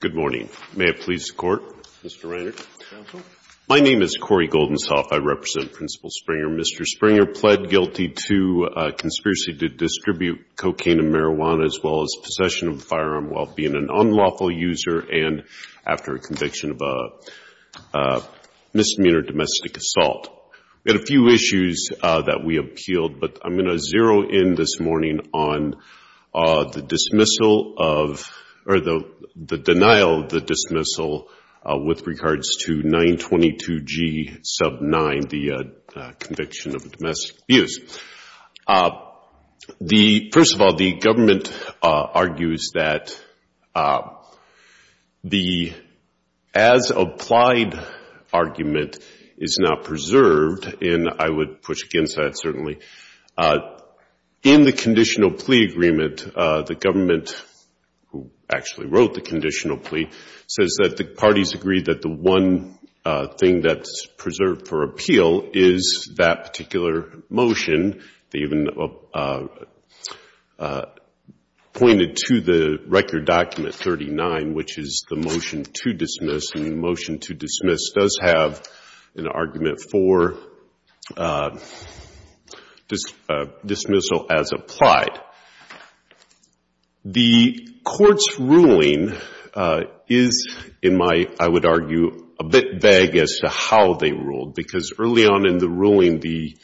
Good morning. May it please the Court, Mr. Reiner? My name is Corey Goldensoft. I represent Principal Springer. Mr. Springer pled guilty to conspiracy to distribute cocaine and marijuana as well as possession of a firearm while being an unlawful user and after a conviction of a misdemeanor domestic assault. We had a few issues that we appealed, but I'm going to zero in this morning on the denial of the dismissal with regards to 922G sub 9, the conviction of domestic abuse. First of all, the government argues that the as-applied argument is not preserved, and I would push against that, certainly. In the conditional plea agreement, the government, who actually wrote the conditional plea, says that the parties agree that the one thing that's preserved for appeal is that particular motion. They even pointed to the record document 39, which is the motion to dismiss, and the motion to dismiss does have an argument for dismissal as applied. The Court's ruling is, in my, I would argue, a bit vague as to how they ruled, because early on in the ruling, the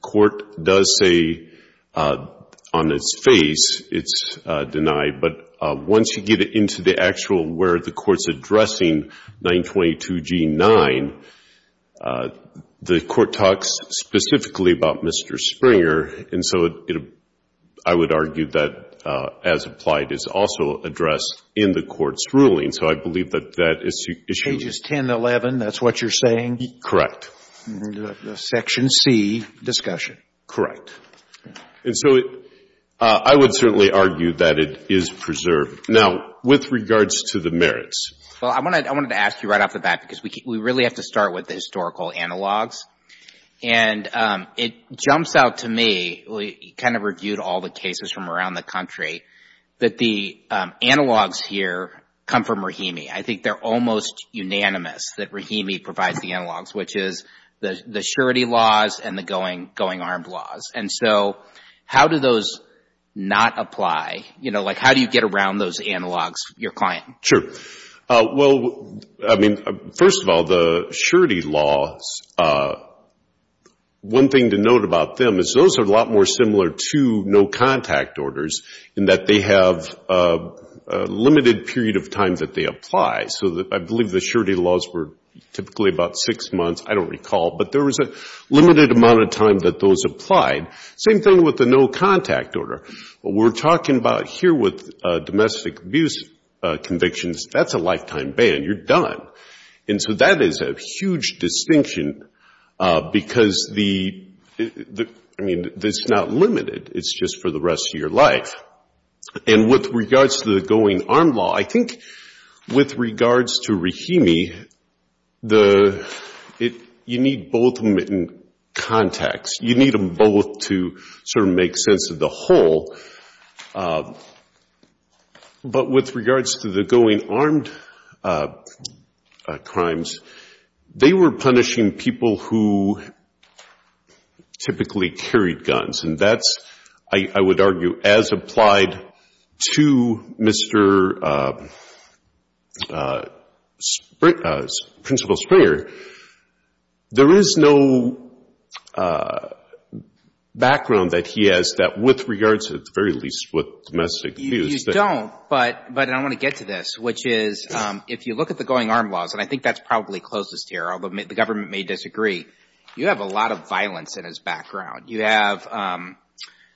Court does say on its face it's denied, but once you get into the actual where the Court's addressing 922G9, the Court talks specifically about Mr. Springer, and so it, I would argue that as-applied is also addressed in the Court's ruling. So I believe that that is true. Scalia. Pages 10 and 11, that's what you're saying? McAllister. Correct. Scalia. And the Section C discussion. McAllister. Correct. And so I would certainly argue that it is preserved. Now, with regards to the merits. Well, I wanted to ask you right off the bat, because we really have to start with the historical analogs, and it jumps out to me, we kind of reviewed all the cases from around the country, that the analogs here come from Rahimi. I think they're almost unanimous that Rahimi provides the analogs, which is the surety laws and the going armed laws. And so how do those not apply, you know, like how do you get around those analogs, your client? McAllister. Sure. Well, I mean, first of all, the surety laws, one thing to note about them is those are a lot more similar to no-contact orders in that they have a limited period of time that they apply. So I believe the surety laws were typically about six months, I don't recall, but there was a limited amount of time that those applied. Same thing with the no-contact order. What we're talking about here with domestic abuse convictions, that's a lifetime ban. You're done. And so that is a huge distinction, because the, I mean, it's not limited. It's just for the rest of your life. And with regards to the going armed law, I think with regards to Rahimi, you need both of them in context. You need them both to sort of make sense of the whole. But with regards to the going armed crimes, they were punishing people who typically carried guns. And that's, I would argue, as applied to Mr. Principal Springer, there is no background that he has that with regards to, at the very least, with domestic abuse. You don't, but I want to get to this, which is, if you look at the going armed laws, and I think that's probably closest here, although the government may disagree, you have a lot of violence in his background. You have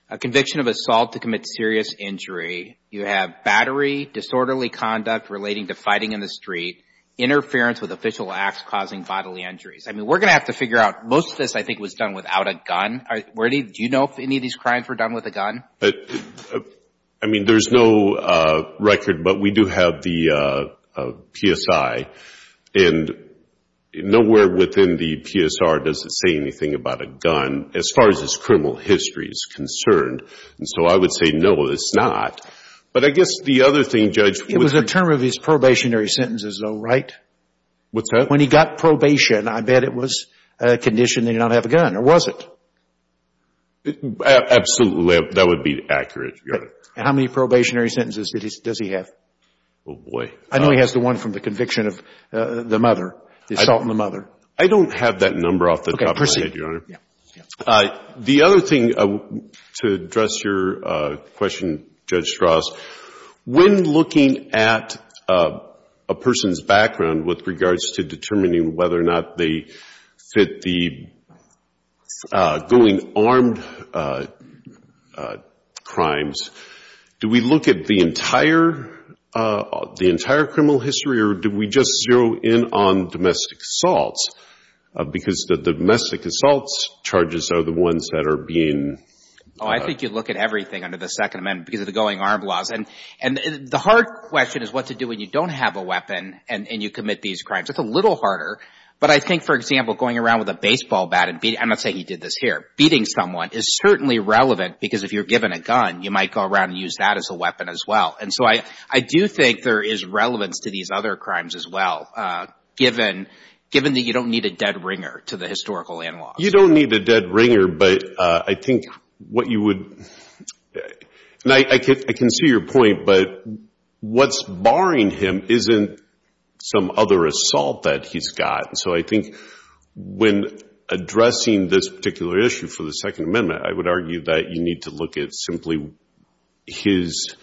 a conviction of assault to commit serious injury. You have battery, disorderly conduct relating to fighting in the street, interference with official acts causing bodily injuries. I mean, we're going to have to figure out, most of this, I think, was done without a gun. Do you know if any of these crimes were done with a gun? I mean, there's no record, but we do have the PSI. And nowhere within the PSR does it say anything about a gun, as far as this criminal history is concerned. And so I would say, no, it's not. But I guess the other thing, Judge, would be... It was a term of his probationary sentences, though, right? What's that? When he got probation, I bet it was a condition that he did not have a gun, or was it? Absolutely. That would be accurate, Your Honor. And how many probationary sentences does he have? Oh, boy. I know he has the one from the conviction of the mother, the assault on the mother. I don't have that number off the top of my head, Your Honor. The other thing, to address your question, Judge Strauss, when looking at a person's background with regards to determining whether or not they fit the going armed crimes, do we look at the entire criminal history, or do we just zero in on domestic assaults? Because the domestic assaults charges are the ones that are being... Oh, I think you look at everything under the Second Amendment because of the going armed laws. And the hard question is what to do when you don't have a weapon and you commit these crimes. It's a little harder. But I think, for example, going around with a baseball bat and beating... I'm not saying he did this here. Beating someone is certainly relevant because if you're given a gun, you might go around and use that as a weapon as well. And so I do think there is relevance to these other crimes as well, given that you don't need a dead ringer to the historical analog. You don't need a dead ringer, but I think what you would... I can see your point, but what's barring him isn't some other assault that he's got. So I think when addressing this particular issue for the Second Amendment, I would argue that you need to look at simply his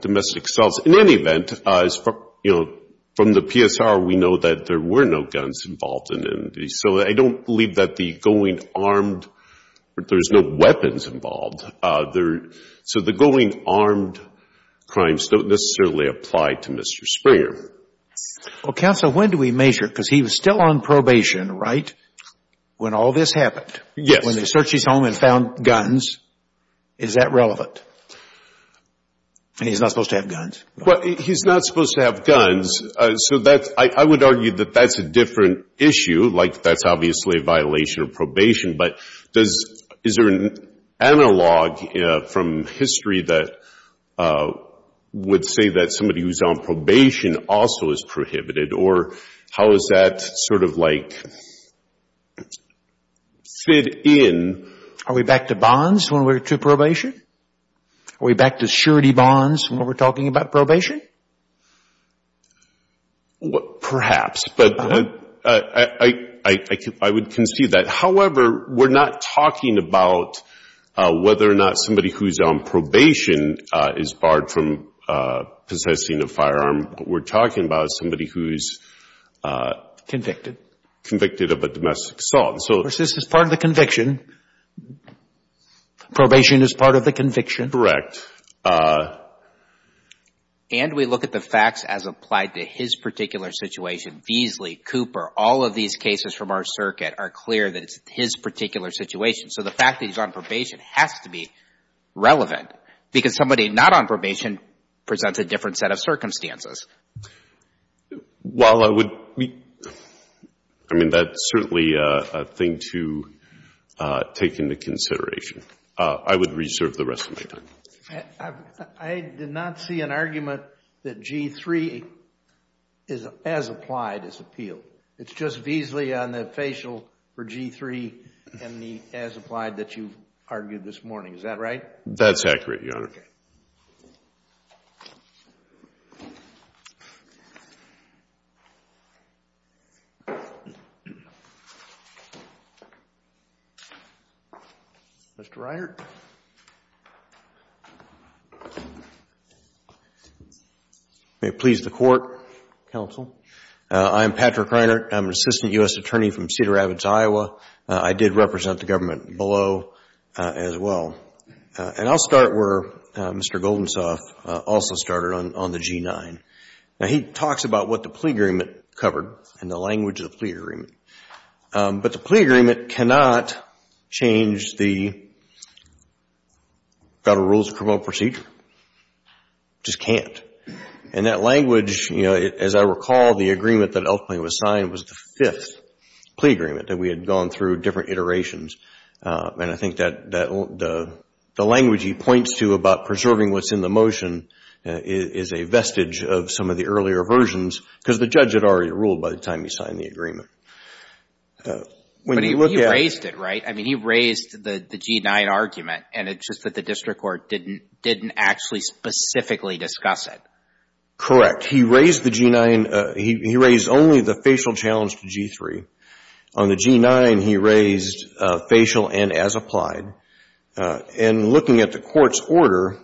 domestic assaults. In any event, from the PSR, we know that there were no guns involved. So I don't believe that the going armed... there's no weapons involved. So the going armed crimes don't necessarily apply to Mr. Springer. Well, Counsel, when do we measure? Because he was still on probation, right, when all this happened? Yes. When they searched his home and found guns, is that relevant? And he's not supposed to have guns. Well, he's not supposed to have guns. So I would argue that that's a different issue, like that's obviously a violation of probation. But is there an analog from history that would say that somebody who's on probation also is prohibited, or how does that sort of like fit in? Are we back to bonds when we're to probation? Are we back to surety bonds when we're talking about probation? Perhaps, but I would concede that. However, we're not talking about whether or not somebody who's on probation is barred from possessing a firearm. What we're talking about is somebody who's... Convicted.... convicted of a domestic assault. Of course, this is part of the conviction. Probation is part of the conviction. Correct. And we look at the facts as applied to his particular situation. Beasley, Cooper, all of these cases from our circuit are clear that it's his particular situation. So the fact that he's on probation has to be relevant, because somebody not on probation presents a different set of circumstances. While I would... I mean, that's certainly a thing to take into consideration. I would reserve the rest of my time. I did not see an argument that G-3 as applied is appealed. It's just Beasley on the facial for G-3 as applied that you've argued this morning. Is that right? That's accurate, Your Honor. Mr. Reiner. May it please the Court, Counsel. I'm Patrick Reiner. I'm an assistant U.S. attorney from Cedar Rapids, Iowa. I did represent the government below as well. And I'll start where Mr. Goldensoft also started on the G-9. Now, he talks about what the plea agreement covered and the language of the plea agreement. But the plea agreement cannot change the Federal Rules of Criminal Procedure. Just can't. And that language, as I recall, the agreement that ultimately was signed was the fifth plea agreement that we had gone through different iterations. And I think that the language he points to about preserving what's in the motion is a vestige of some of the earlier versions because the judge had already ruled by the time he signed the agreement. When you look at... But he raised it, right? I mean, he raised the G-9 argument and it's just that the district court didn't actually specifically discuss it. Correct. He raised the G-9. He raised only the facial challenge to G-3. On the G-9, he raised facial and as applied. And looking at the Court's order,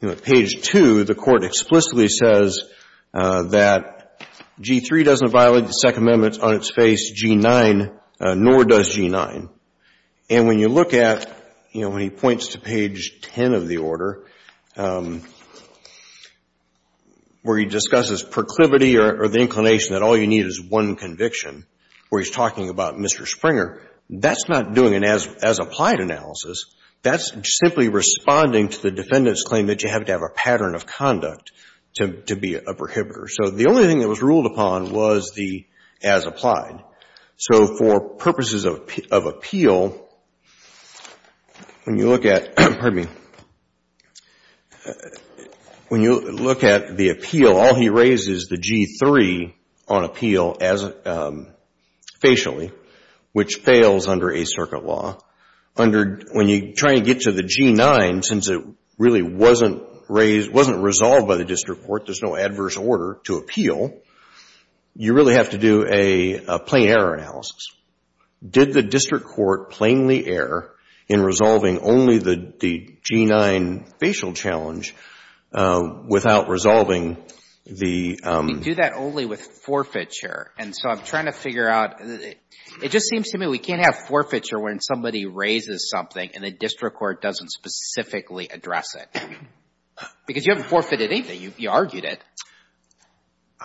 you know, at page 2, the Court explicitly says that G-3 doesn't violate the Second Amendment on its face, G-9, nor does G-9. And when you look at, you know, when he points to page 10 of the order, where he discusses proclivity or the inclination that all you need is one conviction, where he's talking about Mr. Springer, that's not doing an as applied analysis. That's simply responding to the defendant's claim that you have to have a pattern of conduct to be a prohibitor. So the only thing that was ruled upon was the as applied. So for purposes of appeal, when you look at, pardon me, when you look at the appeal, all he raised is the G-3 on appeal as facially, which fails under Eighth Circuit law. Under, when you try and get to the G-9, since it really wasn't raised, wasn't resolved by the district court, there's no adverse order to appeal, you really have to do a plain error analysis. Did the district court plainly err in resolving only the G-9 facial challenge without resolving the... We do that only with forfeiture. And so I'm trying to figure out, it just seems to me we can't have forfeiture when somebody raises something and the district court doesn't specifically address it. Because you haven't forfeited anything. You argued it.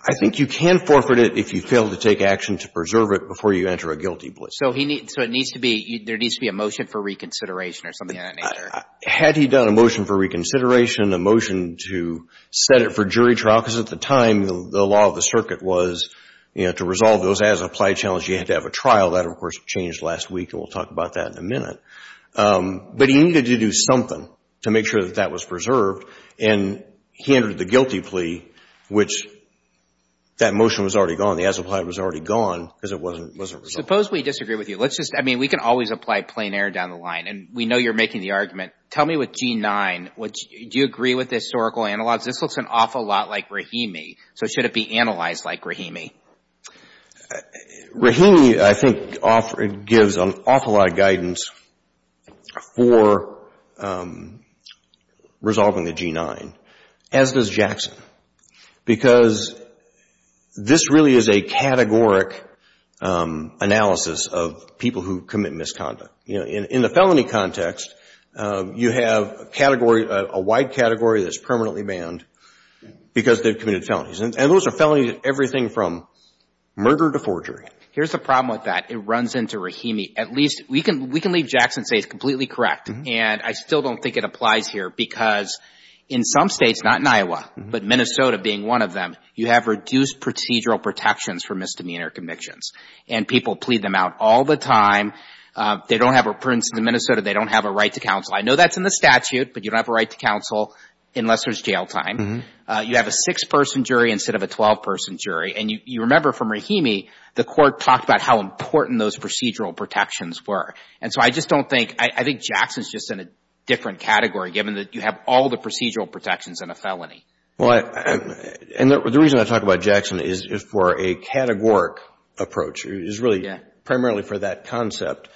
I think you can forfeit it if you fail to take action to preserve it before you enter a guilty plea. So it needs to be, there needs to be a motion for reconsideration or something of that nature. Had he done a motion for reconsideration, a motion to set it for jury trial, because at the time, the law of the circuit was, you know, to resolve those as applied challenge, you had to have a trial. That, of course, changed last week and we'll talk about that in a minute. But he needed to do something to make sure that that was preserved and he entered the guilty plea, which that motion was already gone, the as applied was already gone because it wasn't resolved. Suppose we disagree with you. Let's just, I mean, we can always apply plain error down the line and we know you're making the argument. Tell me with G-9, do you agree with the historical analogs? This looks an awful lot like Rahimi. So should it be analyzed like Rahimi? Rahimi, I think, gives an awful lot of guidance for resolving the G-9, as does Jackson, because this really is a categoric analysis of people who commit misconduct. You know, in the felony context, you have a category, a wide category that's permanently banned because they've committed felonies. And those are felonies in everything from murder to forgery. Here's the problem with that. It runs into Rahimi. At least, we can leave Jackson and say it's completely correct. And I still don't think it applies here because in some states, not in Iowa, but Minnesota being one of them, you have reduced procedural protections for misdemeanor convictions. And people plead them out all the time. They don't have, for instance, in Minnesota, they don't have a right to counsel. I know that's in the statute, but you don't have a right to counsel unless there's jail time. You have a 6-person jury instead of a 12-person jury. And you remember from Rahimi, the court talked about how important those procedural protections were. And so I just don't think, I think Jackson's just in a different category, given that you have all the procedural protections in a felony. Well, and the reason I talk about Jackson is for a categoric approach. It's really primarily for that concept.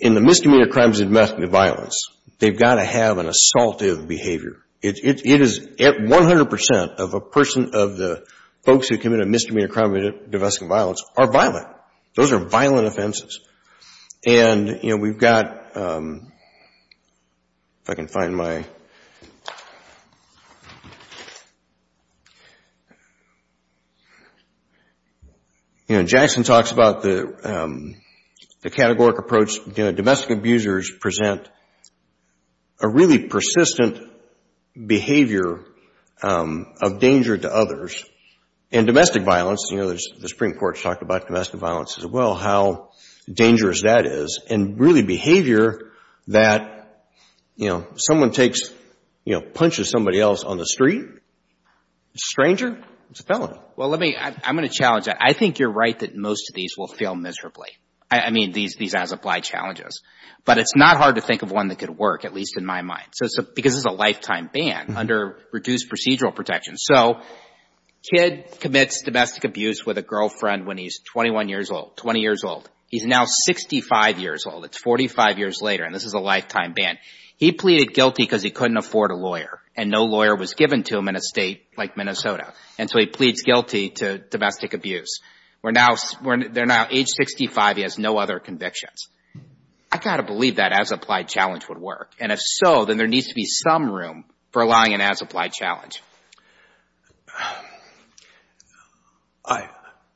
In the misdemeanor crimes of domestic violence, they've got to have an assaultive behavior. It is 100% of the folks who commit a misdemeanor crime of domestic violence are violent. Those are violent offenses. And, you know, we've got... if I can find my... You know, Jackson talks about the categoric approach. Domestic abusers present a really persistent behavior of danger to others. In domestic violence, you know, the Supreme Court's talked about domestic violence as well, how dangerous that is. And really behavior that, you know, someone takes, you know, punches somebody else on the street, stranger, it's a felony. Well, let me... I'm going to challenge that. I think you're right that most of these will fail miserably. I mean, these as-applied challenges. But it's not hard to think of one that could work, at least in my mind, because it's a lifetime ban under reduced procedural protections. So, a kid commits domestic abuse with a girlfriend when he's 21 years old, 20 years old. He's now 65 years old. It's 45 years later, and this is a lifetime ban. He pleaded guilty because he couldn't afford a lawyer, and no lawyer was given to him in a state like Minnesota. And so he pleads guilty to domestic abuse. We're now... they're now age 65. He has no other convictions. I've got to believe that as-applied challenge. I...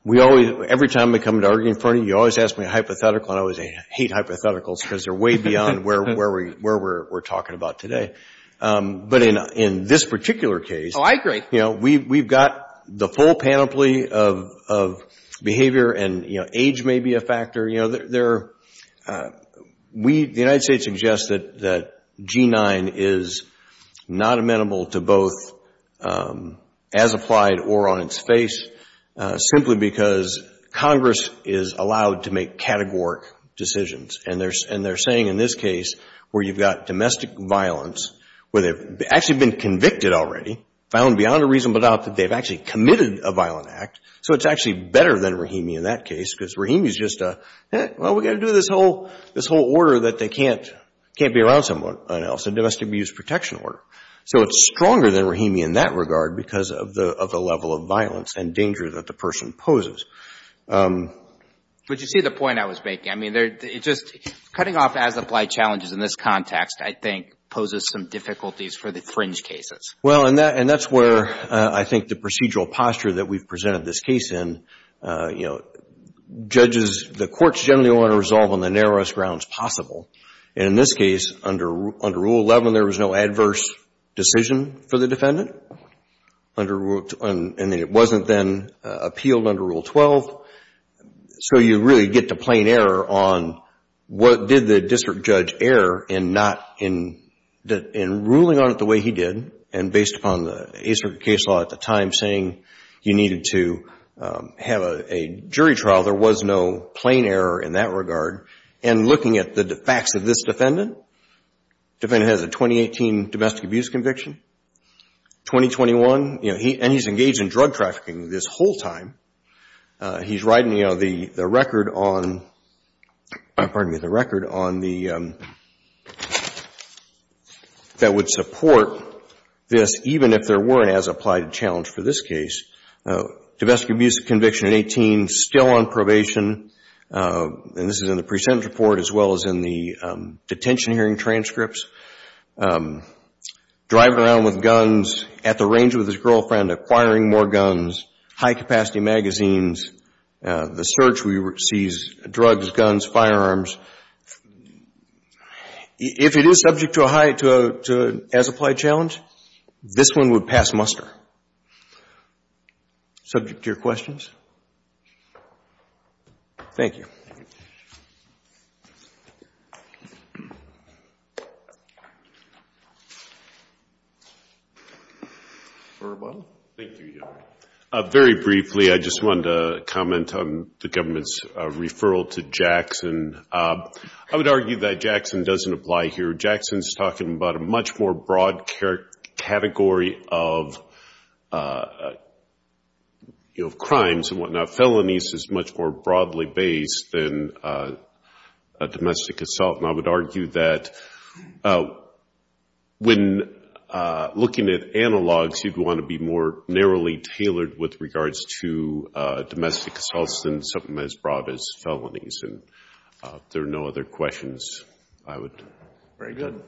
we always... every time we come to argue in front of you, you always ask me a hypothetical, and I always hate hypotheticals because they're way beyond where we're talking about today. But in this particular case... Oh, I agree. You know, we've got the full panoply of behavior and, you know, age may be a factor. You know, there... we... the United States suggests that G-9 is not amenable to both as-applied or on-its-face, simply because Congress is allowed to make categoric decisions. And they're saying in this case where you've got domestic violence, where they've actually been convicted already, found beyond a reasonable doubt that they've actually committed a violent act, so it's actually better than Rahimi in that case because Rahimi's just a, well, we've got to do this whole order that they can't be around someone else, a domestic abuse protection order. So it's stronger than Rahimi in that regard because of the level of violence and danger that the person poses. But you see the point I was making. I mean, they're just... cutting off as-applied challenges in this context, I think, poses some difficulties for the fringe cases. Well, and that's where I think the procedural posture that we've presented this case in, you know, judges the courts generally want to resolve on the narrowest grounds possible. And in this case, under Rule 11, there was no adverse decision for the defendant under Rule... and it wasn't then appealed under Rule 12. So you really get to plain error on what did the district judge err in not... in ruling on it the way he did, and based upon the A-Circuit case law at the time saying you needed to have a jury trial, there was no plain error in ruling on it or plain error in that regard. And looking at the facts of this defendant, the defendant has a 2018 domestic abuse conviction, 2021... you know, and he's engaged in drug trafficking this whole time. He's riding, you know, the record on... pardon me, the record on the... that would support this even if there weren't as-applied challenges for this defendant. And this is in the present report as well as in the detention hearing transcripts. Driving around with guns at the range with his girlfriend, acquiring more guns, high-capacity magazines, the search sees drugs, guns, firearms. If it is subject to a high... to an as-applied challenge, this one would pass muster. Subject to your questions? Thank you. Thank you. Very briefly, I just wanted to comment on the government's referral to Jackson. I would argue that Jackson doesn't apply here. Jackson's talking about a much more broad category of, you know, crimes and whatnot. Felonies is much more broadly based than domestic assault. And I would argue that when looking at analogs, you'd want to be more narrowly tailored with regards to domestic assaults than something as broad as felonies. And if there are no other questions, I would... Very good.